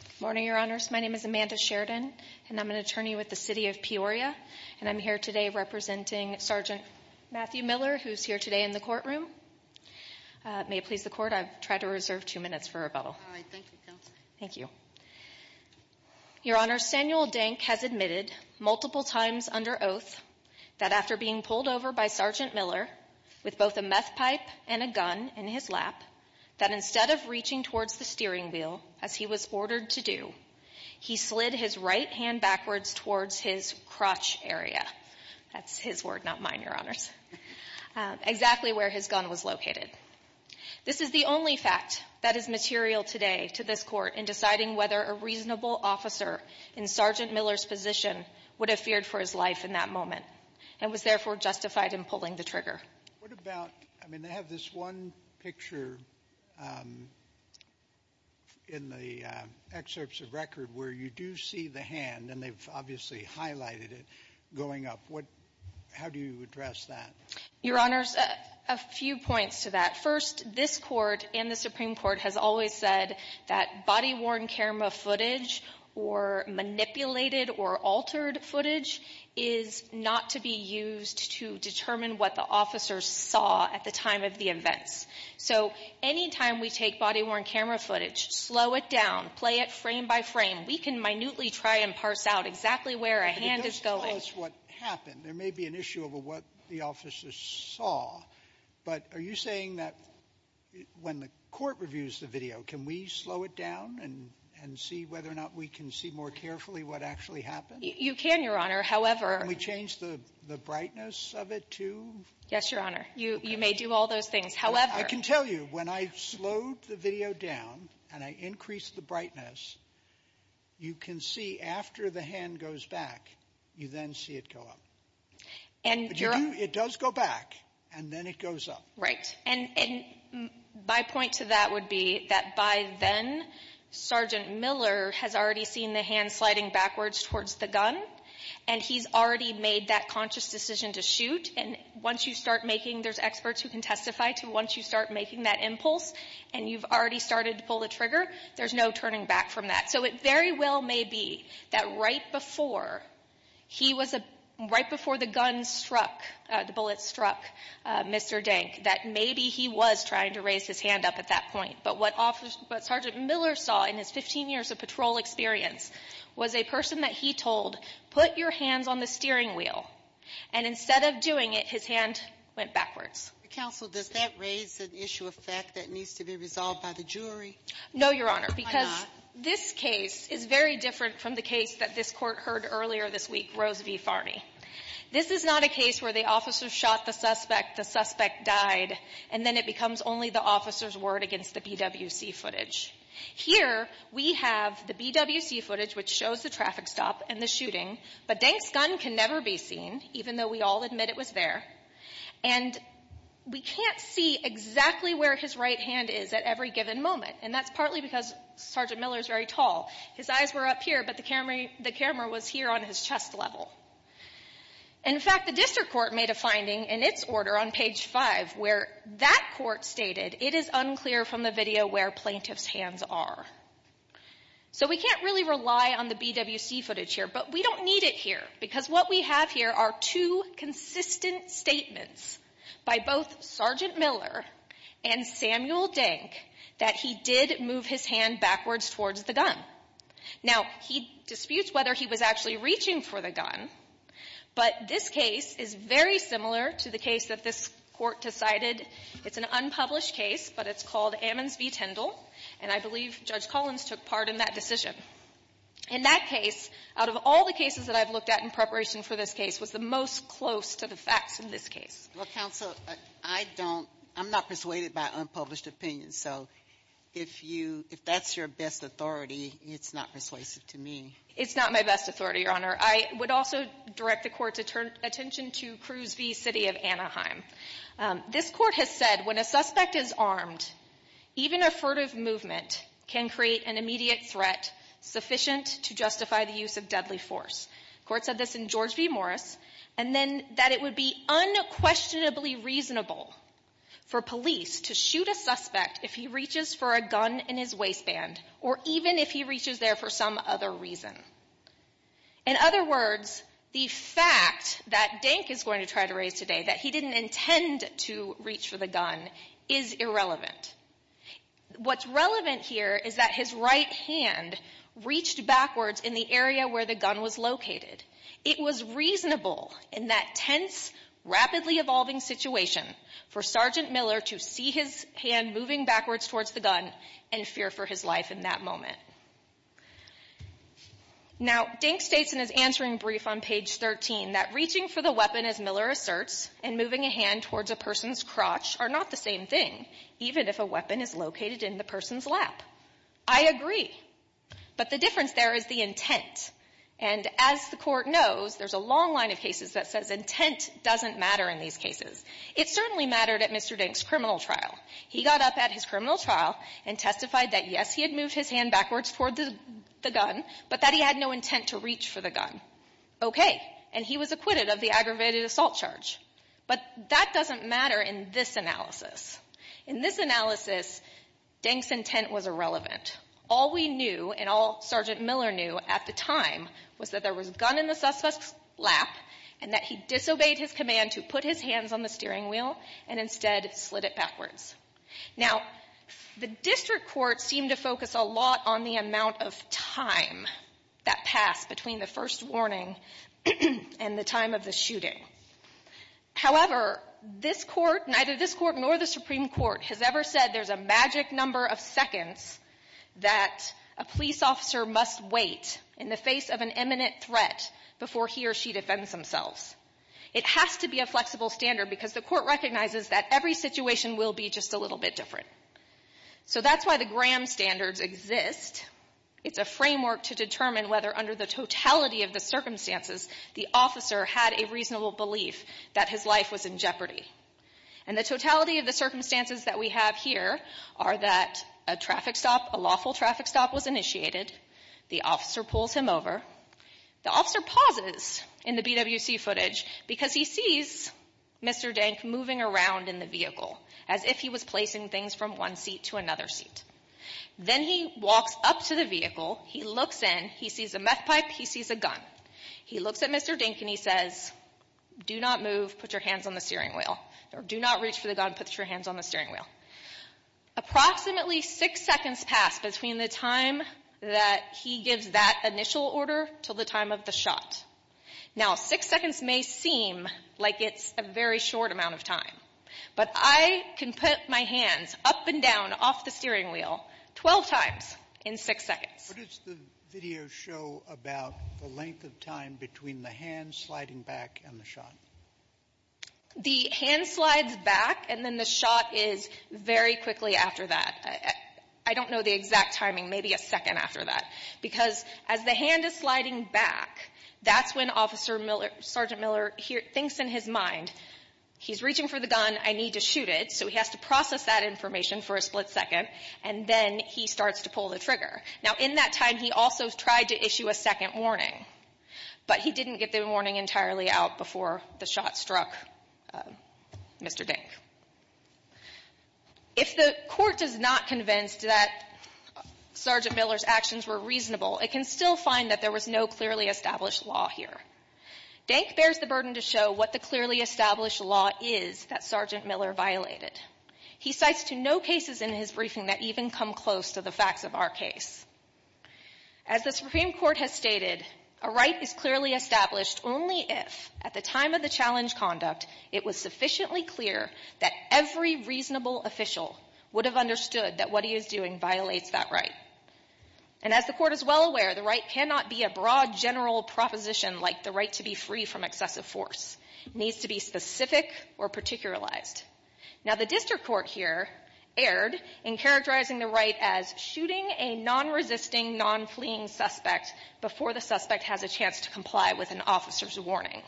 Good morning, Your Honors. My name is Amanda Sheridan, and I'm an attorney with the City of Peoria, and I'm here today representing Sgt. Matthew Miller, who's here today in the courtroom. May it please the Court, I've tried to reserve two minutes for rebuttal. All right. Thank you, Counsel. Thank you. Your Honors, Samuel Denk has admitted multiple times under oath that after being pulled over by Sgt. Miller with both a meth pipe and a gun in his lap, that instead of reaching towards the steering wheel as he was ordered to do, he slid his right hand backwards towards his crotch area. That's his word, not mine, Your Honors. Exactly where his gun was located. This is the only fact that is material today to this Court in deciding whether a reasonable officer in Sgt. Miller's position would have feared for his life in that moment, and was therefore justified in pulling the trigger. What about — I mean, they have this one picture in the excerpts of record where you do see the hand, and they've obviously highlighted it going up. What — how do you address that? Your Honors, a few points to that. First, this Court and the Supreme Court has always said that body-worn camera footage or manipulated or altered footage is not to be used to determine what the officers saw at the time of the events. So anytime we take body-worn camera footage, slow it down, play it frame by frame, we can minutely try and parse out exactly where a hand is going. There may be an issue of what the officers saw, but are you saying that when the Court reviews the video, can we slow it down and see whether or not we can see more carefully what actually happened? You can, Your Honor. However — Can we change the brightness of it, too? Yes, Your Honor. You may do all those things. However — I can tell you, when I slowed the video down and I increased the brightness, you can see after the hand goes back, you then see it go up. But you do — it does go back, and then it goes up. Right. And my point to that would be that by then, Sergeant Miller has already seen the hand sliding backwards towards the gun, and he's already made that conscious decision to shoot. And once you start making — there's experts who can testify to once you start making that impulse, and you've already started to pull the trigger, there's no turning back from that. So it very well may be that right before he was — right before the gun struck — the bullet struck Mr. Dink, that maybe he was trying to raise his hand up at that point. But what Sergeant Miller saw in his 15 years of patrol experience was a person that he told, put your hands on the steering wheel. And instead of doing it, his hand went backwards. Counsel, does that raise an issue of fact that needs to be resolved by the jury? No, Your Honor. Why not? Because this case is very different from the case that this Court heard earlier this week, Rose v. Farney. This is not a case where the officer shot the suspect, the suspect died, and then it becomes only the officer's word against the BWC footage. Here we have the BWC footage, which shows the traffic stop and the shooting, but Dink's gun can never be seen, even though we all admit it was there. And we can't see exactly where his right hand is at every given moment, and that's partly because Sergeant Miller is very tall. His eyes were up here, but the camera was here on his chest level. In fact, the District Court made a finding in its order on page 5, where that Court stated, it is unclear from the video where plaintiff's hands are. So we can't really rely on the BWC footage here, but we don't need it here, because what we have here are two consistent statements by both Sergeant Miller and Samuel Dink that he did move his hand backwards towards the gun. Now, he disputes whether he was actually reaching for the gun, but this case is very similar to the case that this Court decided. It's an unpublished case, but it's called Ammons v. Tindall, and I believe Judge Collins took part in that decision. In that case, out of all the cases that I've looked at in preparation for this case, it was the most close to the facts in this case. Well, Counsel, I'm not persuaded by unpublished opinions, so if that's your best authority, it's not persuasive to me. It's not my best authority, Your Honor. I would also direct the Court's attention to Cruz v. City of Anaheim. This Court has said, when a suspect is armed, even a furtive movement can create an immediate threat sufficient to justify the use of deadly force. The Court said this in George v. Morris, and then that it would be unquestionably reasonable for police to shoot a suspect if he reaches for a gun in his waistband, or even if he reaches there for some other reason. In other words, the fact that Dink is going to try to raise today that he didn't intend to reach for the gun is irrelevant. What's relevant here is that his right hand reached backwards in the area where the gun was located. It was reasonable in that tense, rapidly evolving situation for Sergeant Miller to see his hand moving backwards towards the gun and fear for his life in that moment. Now, Dink states in his answering brief on page 13 that reaching for the weapon, as Miller asserts, and moving a hand towards a person's crotch are not the same thing, even if a weapon is located in the person's lap. I agree. But the difference there is the intent. And as the Court knows, there's a long line of cases that says intent doesn't matter in these cases. It certainly mattered at Mr. Dink's criminal trial. He got up at his criminal trial and testified that, yes, he had moved his hand backwards towards the gun, but that he had no intent to reach for the gun. Okay. And he was acquitted of the aggravated assault charge. But that doesn't matter in this analysis. In this analysis, Dink's intent was irrelevant. All we knew and all Sergeant Miller knew at the time was that there was a gun in the suspect's lap and that he disobeyed his command to put his hands on the steering wheel and instead slid it backwards. Now, the District Court seemed to focus a lot on the amount of time that passed between the first warning and the time of the shooting. However, this Court, neither this Court nor the Supreme Court, has ever said there's a magic number of seconds that a police officer must wait in the face of an imminent threat before he or she defends themselves. It has to be a flexible standard because the Court recognizes that every situation will be just a little bit different. So that's why the Graham Standards exist. It's a framework to determine whether, under the totality of the circumstances, the officer had a reasonable belief that his life was in jeopardy. And the totality of the circumstances that we have here are that a traffic stop, a lawful traffic stop was initiated, the officer pulls him over, the officer pauses in the BWC footage because he sees Mr. Dink moving around in the vehicle as if he was placing things from one seat to another seat. Then he walks up to the vehicle, he looks in, he sees a meth pipe, he sees a gun. He looks at Mr. Dink and he says, do not move, put your hands on the steering wheel, or do not reach for the gun, put your hands on the steering wheel. Approximately six seconds pass between the time that he gives that initial order to the time of the shot. Now, six seconds may seem like it's a very short amount of time, but I can put my hands up and down off the steering wheel 12 times in six seconds. What does the video show about the length of time between the hands sliding back and the shot? The hand slides back and then the shot is very quickly after that. I don't know the exact timing, maybe a second after that. Because as the hand is sliding back, that's when Sergeant Miller thinks in his mind, he's reaching for the gun, I need to shoot it, so he has to process that information for a split second, and then he starts to pull the trigger. Now, in that time, he also tried to issue a second warning, but he didn't get the warning entirely out before the shot struck Mr. Dink. If the court does not convince that Sergeant Miller's actions were reasonable, it can still find that there was no clearly established law here. Dink bears the burden to show what the clearly established law is that Sergeant Miller violated. He cites to no cases in his briefing that even come close to the facts of our case. As the Supreme Court has stated, a right is clearly established only if, at the time of the challenge conduct, it was sufficiently clear that every reasonable official would have understood that what he is doing violates that right. And as the court is well aware, the right cannot be a broad general proposition like the right to be free from excessive force. It needs to be specific or particularized. Now, the district court here erred in characterizing the right as shooting a non-resisting, non-fleeing suspect before the suspect has a chance to comply with an officer's warning.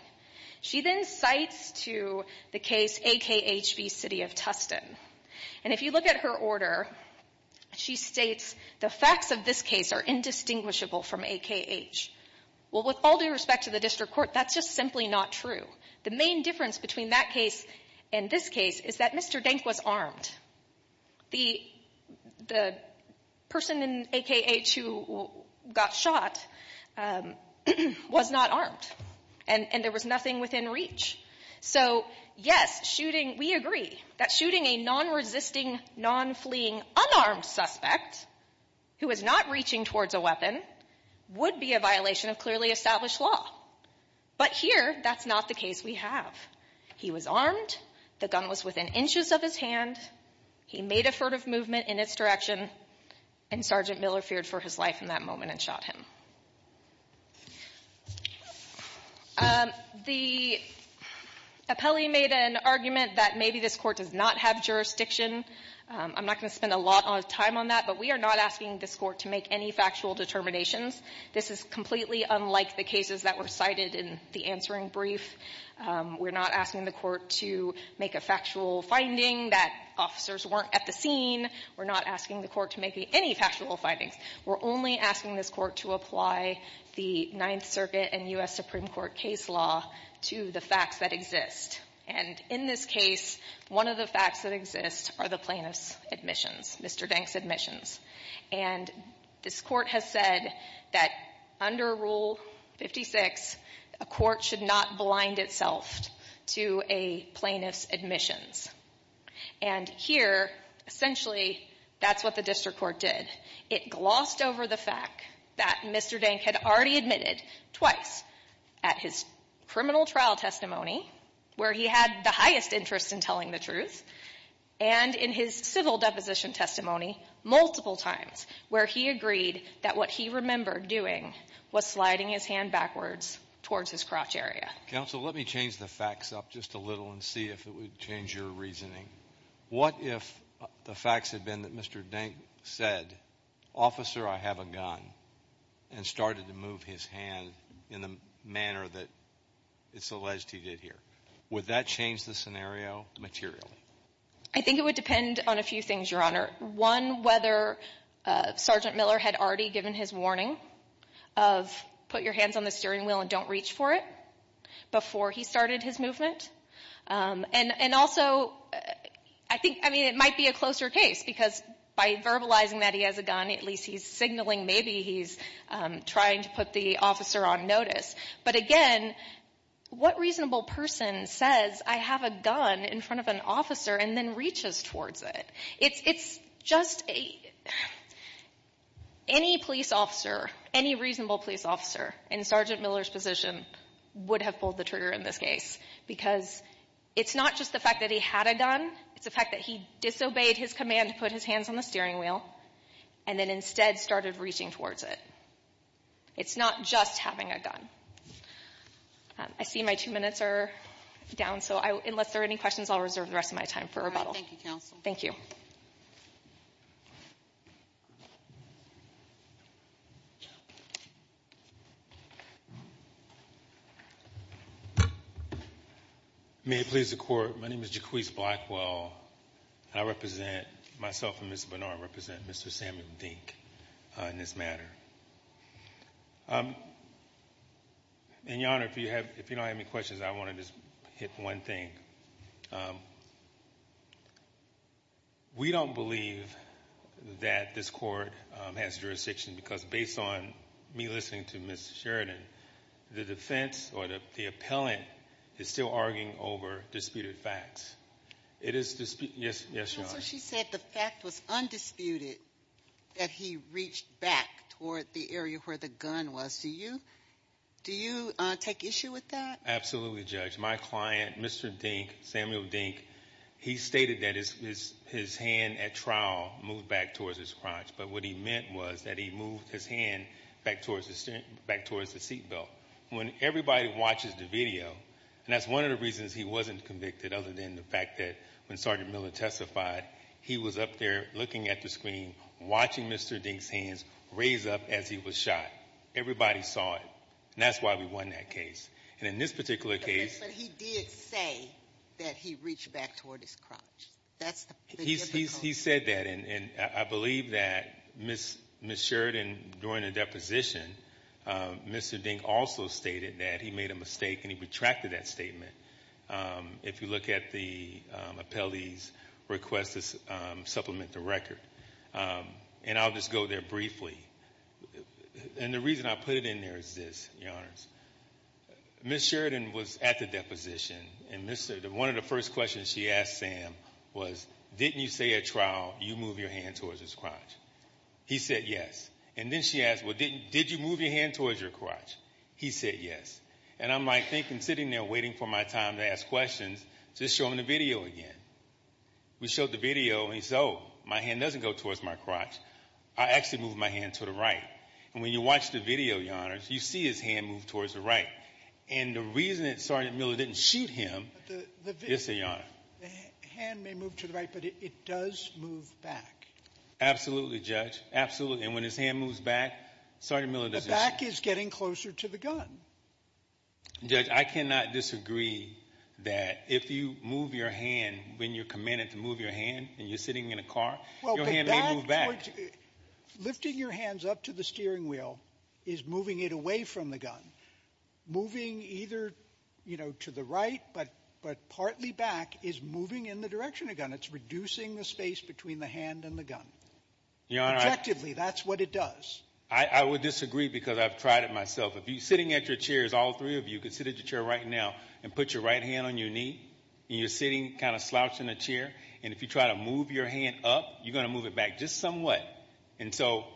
She then cites to the case AKH v. City of Tustin. And if you look at her order, she states the facts of this case are indistinguishable from AKH. Well, with all due respect to the district court, that's just simply not true. The main difference between that case and this case is that Mr. Denk was armed. The person in AKH who got shot was not armed, and there was nothing within reach. So, yes, shooting we agree that shooting a non-resisting, non-fleeing unarmed suspect who was not reaching towards a weapon would be a violation of clearly established law. But here, that's not the case we have. He was armed. The gun was within inches of his hand. He made a furtive movement in its direction. And Sergeant Miller feared for his life in that moment and shot him. The appellee made an argument that maybe this court does not have jurisdiction. I'm not going to spend a lot of time on that, but we are not asking this court to make any factual determinations. This is completely unlike the cases that were cited in the answering brief. We're not asking the court to make a factual finding that officers weren't at the scene. We're not asking the court to make any factual findings. We're only asking this court to apply the Ninth Circuit and U.S. Supreme Court case law to the facts that exist. And in this case, one of the facts that exist are the plaintiff's admissions, Mr. Dank's admissions. And this court has said that under Rule 56, a court should not blind itself to a plaintiff's admissions. And here, essentially, that's what the district court did. It glossed over the fact that Mr. Dank had already admitted twice at his criminal trial testimony where he had the highest interest in telling the truth and in his civil deposition testimony multiple times where he agreed that what he remembered doing was sliding his hand backwards towards his crotch area. Counsel, let me change the facts up just a little and see if it would change your reasoning. What if the facts had been that Mr. Dank said, officer, I have a gun, and started to move his hand in the manner that it's alleged he did here? Would that change the scenario materially? I think it would depend on a few things, Your Honor. One, whether Sergeant Miller had already given his warning of put your hands on the steering wheel and don't reach for it before he started his movement. And also, I think, I mean, it might be a closer case because by verbalizing that he has a gun, at least he's signaling maybe he's trying to put the officer on notice. But again, what reasonable person says, I have a gun in front of an officer and then reaches towards it? It's just a, any police officer, any reasonable police officer in Sergeant Miller's position would have pulled the trigger in this case because it's not just the fact that he had a gun. It's the fact that he disobeyed his command to put his hands on the steering wheel and then instead started reaching towards it. It's not just having a gun. I see my two minutes are down. So unless there are any questions, I'll reserve the rest of my time for rebuttal. Thank you, counsel. Thank you. May it please the Court, my name is Jacquees Blackwell. I represent myself and Ms. Bernard represent Mr. Samuel Dink in this matter. And, Your Honor, if you don't have any questions, I want to just hit one thing. We don't believe that this Court has jurisdiction because based on me listening to Ms. Sheridan, the defense or the appellant is still arguing over disputed facts. It is disputed. Yes, Your Honor. So she said the fact was undisputed that he reached back toward the area where the gun was. Do you take issue with that? Absolutely, Judge. My client, Mr. Dink, Samuel Dink, he stated that his hand at trial moved back towards his crotch. But what he meant was that he moved his hand back towards the seat belt. When everybody watches the video, and that's one of the reasons he wasn't convicted other than the fact that when Sergeant Miller testified, he was up there looking at the screen, watching Mr. Dink's hands raise up as he was shot. Everybody saw it. And that's why we won that case. And in this particular case. But he did say that he reached back toward his crotch. That's the difficulty. He said that. And I believe that Ms. Sheridan, during the deposition, Mr. Dink also stated that he made a mistake, and he retracted that statement. If you look at the appellee's request to supplement the record. And I'll just go there briefly. And the reason I put it in there is this, Your Honors. Ms. Sheridan was at the deposition, and one of the first questions she asked Sam was, didn't you say at trial you moved your hand towards his crotch? He said yes. And then she asked, well, did you move your hand towards your crotch? He said yes. And I'm, like, thinking, sitting there waiting for my time to ask questions, just showing the video again. We showed the video, and he said, oh, my hand doesn't go towards my crotch. I actually moved my hand to the right. And when you watch the video, Your Honors, you see his hand move towards the right. And the reason that Sergeant Miller didn't shoot him is, Your Honor. The hand may move to the right, but it does move back. Absolutely, Judge. Absolutely. And when his hand moves back, Sergeant Miller doesn't shoot. His back is getting closer to the gun. Judge, I cannot disagree that if you move your hand when you're commanded to move your hand and you're sitting in a car, your hand may move back. Well, but that towards you, lifting your hands up to the steering wheel is moving it away from the gun. Moving either, you know, to the right but partly back is moving in the direction of the gun. It's reducing the space between the hand and the gun. Your Honor, I — Objectively, that's what it does. I would disagree because I've tried it myself. If you're sitting at your chairs, all three of you could sit at your chair right now and put your right hand on your knee, and you're sitting kind of slouched in a chair, and if you try to move your hand up, you're going to move it back just somewhat. And so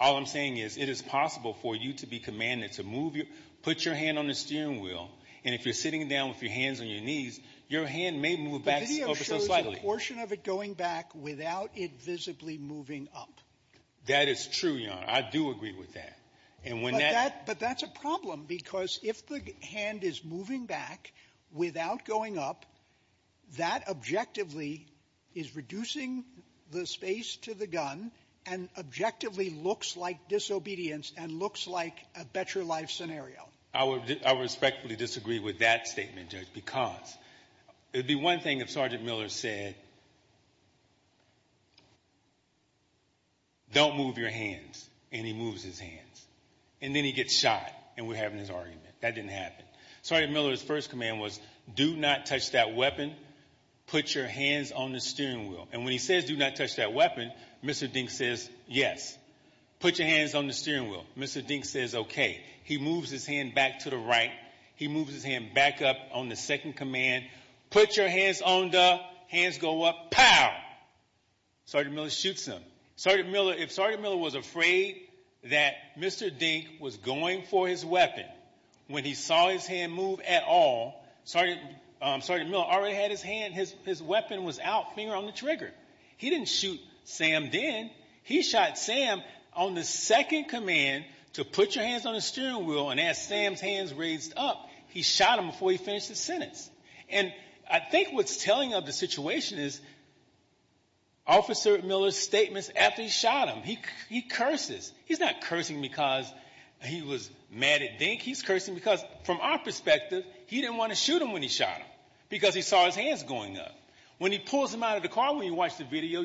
all I'm saying is it is possible for you to be commanded to move your — put your hand on the steering wheel, and if you're sitting down with your hands on your knees, your hand may move back over so slightly. The video shows a portion of it going back without it visibly moving up. That is true, Your Honor. I do agree with that. And when that — But that's a problem, because if the hand is moving back without going up, that objectively is reducing the space to the gun and objectively looks like disobedience and looks like a better-life scenario. I would respectfully disagree with that statement, Judge, because it would be one thing if Sergeant Miller said, don't move your hands, and he moves his hands. And then he gets shot, and we're having this argument. That didn't happen. Sergeant Miller's first command was, do not touch that weapon. Put your hands on the steering wheel. And when he says, do not touch that weapon, Mr. Dink says, yes. Put your hands on the steering wheel. Mr. Dink says, okay. He moves his hand back to the right. He moves his hand back up on the second command. Put your hands on the — hands go up. Pow! Sergeant Miller shoots him. Sergeant Miller — if Sergeant Miller was afraid that Mr. Dink was going for his weapon, when he saw his hand move at all, Sergeant Miller already had his hand — his weapon was out, finger on the trigger. He didn't shoot Sam then. He shot Sam on the second command to put your hands on the steering wheel, and as Sam's hands raised up, he shot him before he finished his sentence. And I think what's telling of the situation is Officer Miller's statements after he shot him. He curses. He's not cursing because he was mad at Dink. He's cursing because, from our perspective, he didn't want to shoot him when he shot him because he saw his hands going up. When he pulls him out of the car, when you watch the video,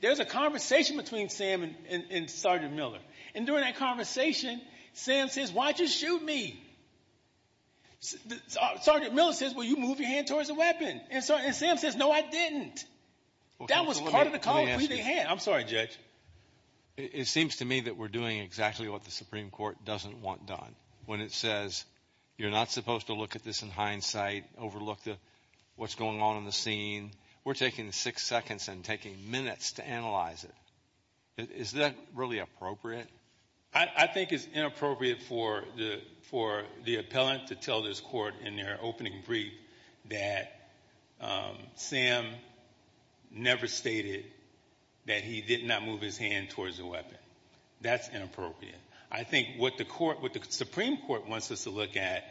there's a conversation between Sam and Sergeant Miller. And during that conversation, Sam says, why'd you shoot me? Sergeant Miller says, well, you moved your hand towards the weapon. And Sam says, no, I didn't. That was part of the call. I'm sorry, Judge. It seems to me that we're doing exactly what the Supreme Court doesn't want done. When it says you're not supposed to look at this in hindsight, overlook what's going on in the scene, we're taking six seconds and taking minutes to analyze it. Is that really appropriate? I think it's inappropriate for the appellant to tell this court in their opening brief that Sam never stated that he did not move his hand towards the weapon. That's inappropriate. I think what the Supreme Court wants us to look at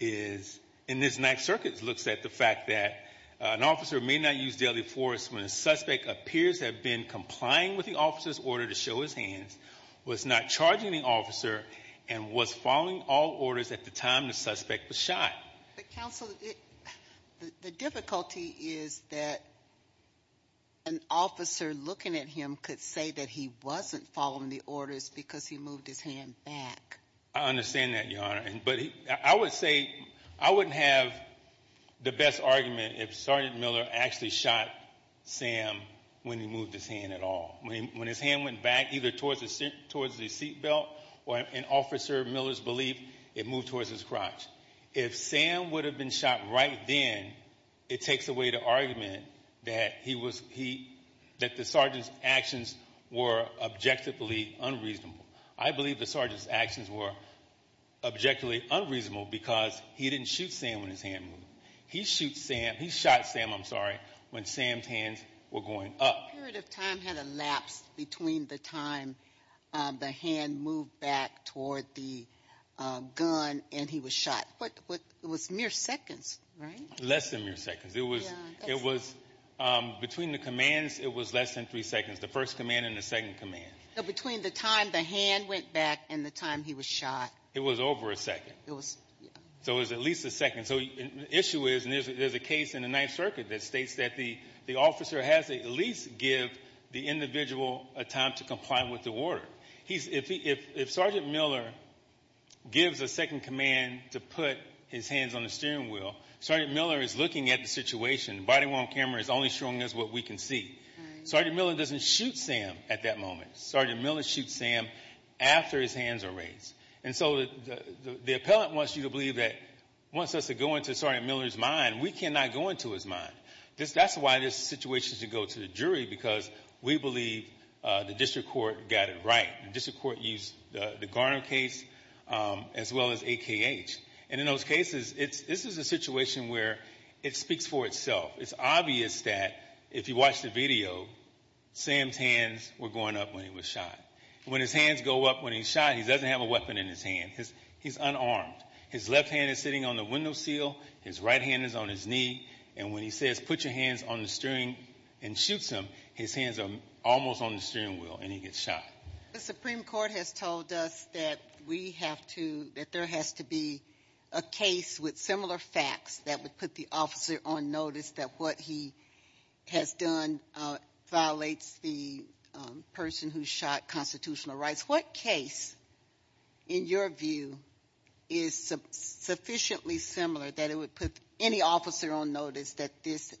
is, and this Ninth Circuit looks at the fact that an officer may not use deadly force when the suspect appears to have been complying with the officer's order to show his hands, was not charging the officer, and was following all orders at the time the suspect was shot. But, counsel, the difficulty is that an officer looking at him could say that he wasn't following the orders because he moved his hand back. I understand that, Your Honor. But I would say I wouldn't have the best argument if Sergeant Miller actually shot Sam when he moved his hand at all. When his hand went back either towards the seat belt or, in Officer Miller's belief, it moved towards his crotch. If Sam would have been shot right then, it takes away the argument that the sergeant's actions were objectively unreasonable. I believe the sergeant's actions were objectively unreasonable because he didn't shoot Sam when his hand moved. He shot Sam, I'm sorry, when Sam's hands were going up. The period of time had elapsed between the time the hand moved back toward the gun and he was shot. It was mere seconds, right? Less than mere seconds. Between the commands, it was less than three seconds, the first command and the second command. So between the time the hand went back and the time he was shot. It was over a second. It was, yeah. So it was at least a second. So the issue is, and there's a case in the Ninth Circuit that states that the officer has to at least give the individual a time to comply with the order. If Sergeant Miller gives a second command to put his hands on the steering wheel, Sergeant Miller is looking at the situation. The body-worn camera is only showing us what we can see. Sergeant Miller doesn't shoot Sam at that moment. Sergeant Miller shoots Sam after his hands are raised. And so the appellant wants you to believe that, wants us to go into Sergeant Miller's mind. We cannot go into his mind. That's why this situation should go to the jury because we believe the district court got it right. The district court used the Garner case as well as AKH. And in those cases, this is a situation where it speaks for itself. It's obvious that if you watch the video, Sam's hands were going up when he was shot. When his hands go up when he's shot, he doesn't have a weapon in his hand. He's unarmed. His left hand is sitting on the window sill. His right hand is on his knee. And when he says, put your hands on the steering, and shoots him, his hands are almost on the steering wheel, and he gets shot. The Supreme Court has told us that we have to, that there has to be a case with similar facts that would put the officer on notice that what he has done violates the person who shot constitutional rights. What case, in your view, is sufficiently similar that it would put any officer on notice that this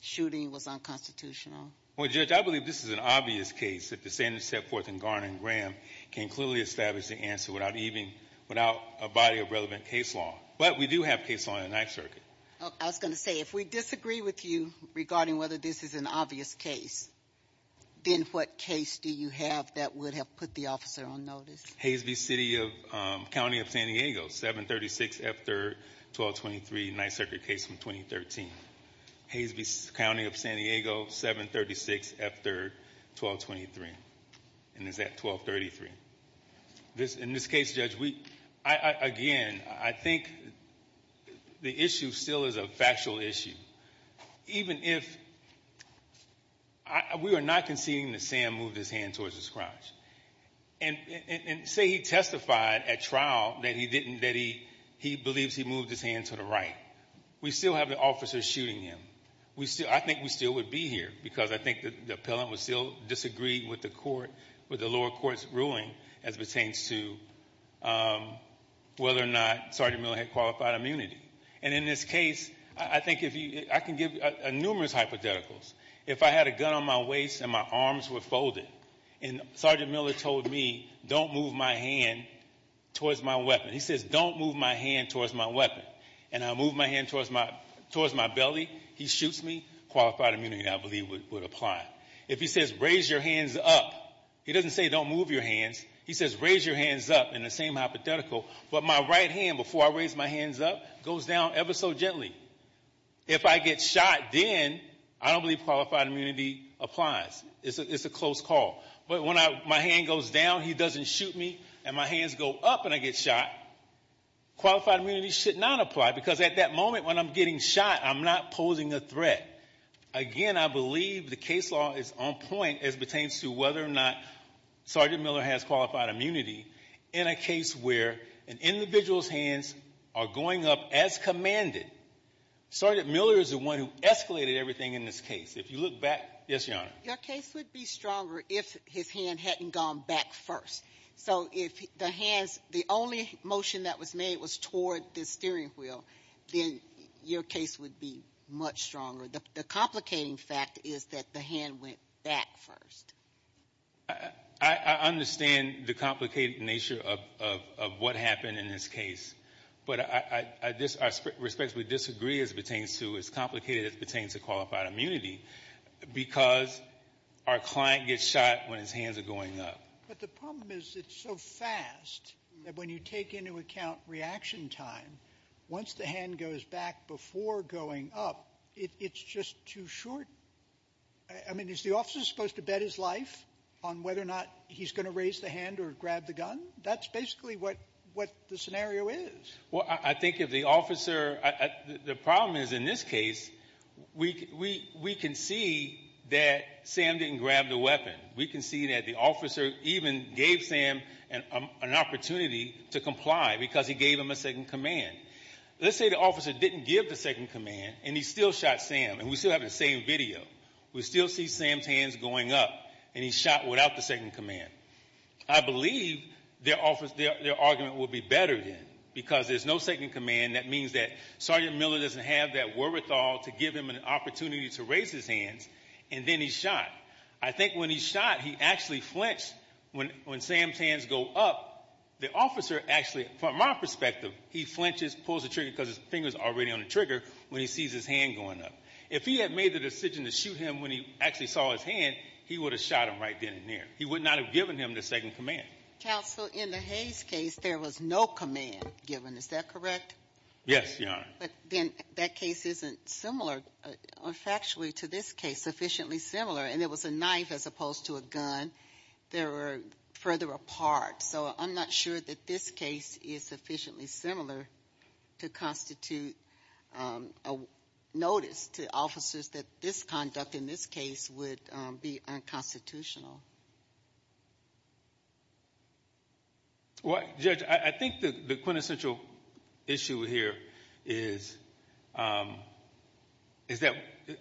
shooting was unconstitutional? Well, Judge, I believe this is an obvious case that the sentence set forth in Garner and Graham can clearly establish the answer without even, without a body of relevant case law. But we do have case law in the Ninth Circuit. I was going to say, if we disagree with you regarding whether this is an obvious case, then what case do you have that would have put the officer on notice? Hayes v. City of, County of San Diego, 736 F. 3rd, 1223, Ninth Circuit case from 2013. Hayes v. County of San Diego, 736 F. 3rd, 1223. And is that 1233? In this case, Judge, we, again, I think the issue still is a factual issue. Even if, we are not conceding that Sam moved his hand towards his crotch. And say he testified at trial that he didn't, that he believes he moved his hand to the right. We still have the officer shooting him. We still, I think we still would be here because I think the appellant would still disagree with the court, with the lower court's ruling as it pertains to whether or not Sergeant Miller had qualified immunity. And in this case, I think if you, I can give numerous hypotheticals. If I had a gun on my waist and my arms were folded and Sergeant Miller told me, don't move my hand towards my weapon. He says, don't move my hand towards my weapon. And I move my hand towards my belly. He shoots me. Qualified immunity, I believe, would apply. If he says, raise your hands up. He doesn't say, don't move your hands. He says, raise your hands up in the same hypothetical. But my right hand, before I raise my hands up, goes down ever so gently. If I get shot, then I don't believe qualified immunity applies. It's a close call. But when my hand goes down, he doesn't shoot me, and my hands go up and I get shot, qualified immunity should not apply because at that moment when I'm getting shot, I'm not posing a threat. Again, I believe the case law is on point as it pertains to whether or not Sergeant Miller has qualified immunity in a case where an individual's hands are going up as commanded. Sergeant Miller is the one who escalated everything in this case. If you look back, yes, Your Honor. Your case would be stronger if his hand hadn't gone back first. So if the hands, the only motion that was made was toward the steering wheel, then your case would be much stronger. The complicating fact is that the hand went back first. I understand the complicated nature of what happened in this case. But I respectfully disagree as it pertains to as complicated as it pertains to qualified immunity because our client gets shot when his hands are going up. But the problem is it's so fast that when you take into account reaction time, once the hand goes back before going up, it's just too short. I mean, is the officer supposed to bet his life on whether or not he's going to raise the hand or grab the gun? That's basically what the scenario is. Well, I think if the officer, the problem is in this case we can see that Sam didn't grab the weapon. We can see that the officer even gave Sam an opportunity to comply because he gave him a second command. Let's say the officer didn't give the second command and he still shot Sam and we still have the same video. We still see Sam's hands going up and he's shot without the second command. I believe their argument would be better then because there's no second command. That means that Sergeant Miller doesn't have that wherewithal to give him an opportunity to raise his hands and then he's shot. I think when he's shot, he actually flinched. When Sam's hands go up, the officer actually, from my perspective, he flinches, pulls the trigger because his finger's already on the trigger when he sees his hand going up. If he had made the decision to shoot him when he actually saw his hand, he would have shot him right then and there. He would not have given him the second command. Counsel, in the Hayes case, there was no command given. Is that correct? Yes, Your Honor. But then that case isn't similar factually to this case, sufficiently similar. And there was a knife as opposed to a gun. They were further apart. So I'm not sure that this case is sufficiently similar to constitute a notice to officers that this conduct in this case would be unconstitutional. Well, Judge, I think the quintessential issue here is that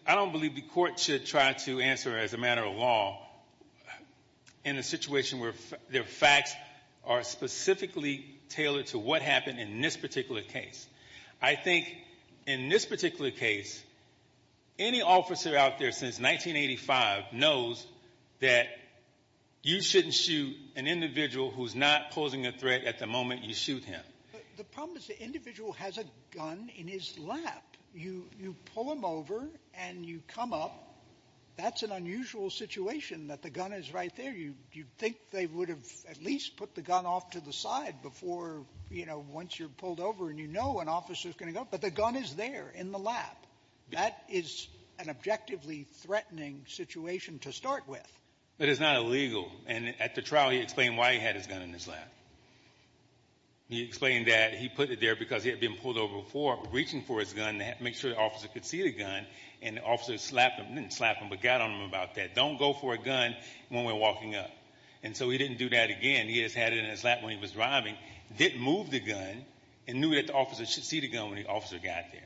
I don't believe the court should try to answer as a matter of law in a situation where their facts are specifically tailored to what happened in this particular case. I think in this particular case, any officer out there since 1985 knows that you shouldn't shoot an individual who's not posing a threat at the moment you shoot him. The problem is the individual has a gun in his lap. You pull him over and you come up. That's an unusual situation that the gun is right there. You think they would have at least put the gun off to the side before, you know, once you're pulled over and you know an officer is going to go. But the gun is there in the lap. That is an objectively threatening situation to start with. But it's not illegal. And at the trial, he explained why he had his gun in his lap. He explained that he put it there because he had been pulled over before, reaching for his gun to make sure the officer could see the gun, and the officer slapped him, didn't slap him, but got on him about that. Don't go for a gun when we're walking up. And so he didn't do that again. He just had it in his lap when he was driving, didn't move the gun, and knew that the officer should see the gun when the officer got there.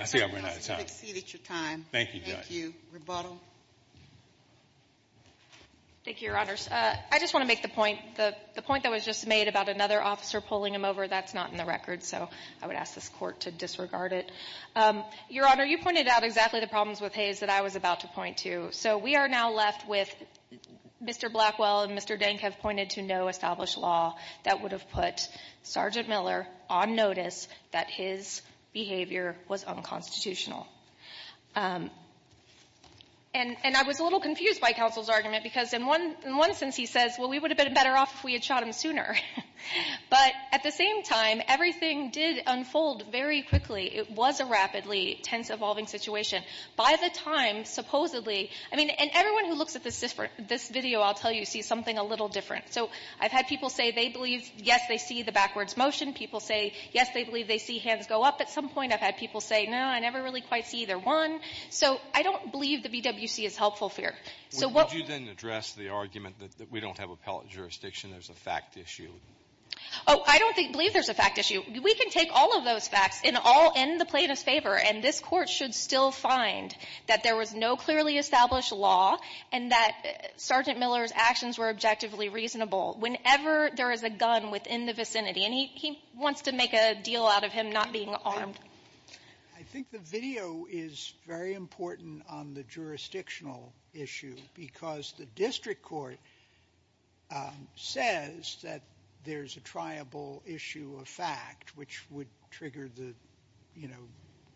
I see I've run out of time. You've exceeded your time. Thank you, Judge. Thank you. Rebuttal. Thank you, Your Honors. I just want to make the point. The point that was just made about another officer pulling him over, that's not in the record. So I would ask this Court to disregard it. Your Honor, you pointed out exactly the problems with Hayes that I was about to point to. So we are now left with Mr. Blackwell and Mr. Denk have pointed to no established law that would have put Sergeant Miller on notice that his behavior was unconstitutional. And I was a little confused by counsel's argument, because in one sense he says, well, we would have been better off if we had shot him sooner. But at the same time, everything did unfold very quickly. It was a rapidly tense, evolving situation. By the time, supposedly, I mean, and everyone who looks at this video, I'll tell you, sees something a little different. So I've had people say they believe, yes, they see the backwards motion. People say, yes, they believe they see hands go up at some point. I've had people say, no, I never really quite see either one. So I don't believe the BWC is helpful here. So what we're going to do is address the argument that we don't have appellate jurisdiction, there's a fact issue. Oh, I don't believe there's a fact issue. We can take all of those facts in all in the plaintiff's favor, and this Court should still find that there was no clearly established law and that Sergeant Miller's actions were objectively reasonable whenever there is a gun within the vicinity. And he wants to make a deal out of him not being armed. I think the video is very important on the jurisdictional issue because the district court says that there's a triable issue of fact, which would trigger the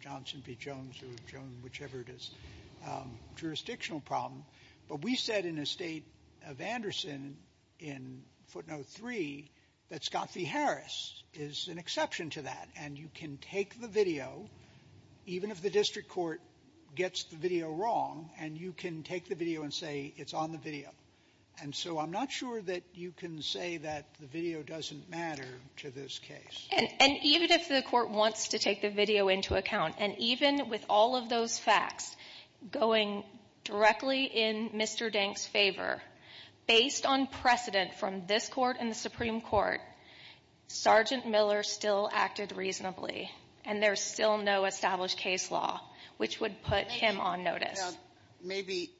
Johnson v. Jones or Jones, whichever it is, jurisdictional problem. But we said in the State of Anderson in footnote 3 that Scott v. Harris is an exception to that, and you can take the video, even if the district court gets the video wrong, and you can take the video and say it's on the video. And so I'm not sure that you can say that the video doesn't matter to this case. And even if the court wants to take the video into account, and even with all of those facts going directly in Mr. Dank's favor, based on precedent from this Court and the Supreme Court, Sergeant Miller still acted reasonably, and there's still no established case law which would put him on notice. Maybe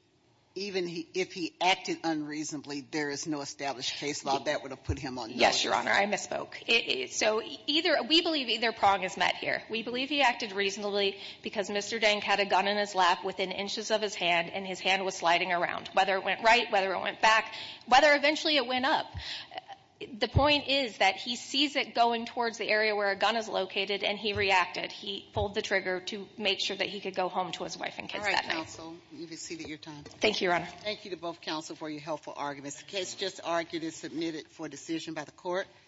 even if he acted unreasonably, there is no established case law that would have put him on notice. Yes, Your Honor, I misspoke. So either we believe either prong is met here. We believe he acted reasonably because Mr. Dank had a gun in his lap within inches of his hand, and his hand was sliding around, whether it went right, whether it went back, whether eventually it went up. The point is that he sees it going towards the area where a gun is located, and he reacted. He pulled the trigger to make sure that he could go home to his wife and kids that night. Sotomayor, you've exceeded your time. Thank you, Your Honor. Thank you to both counsel for your helpful arguments. The case just argued and submitted for decision by the Court.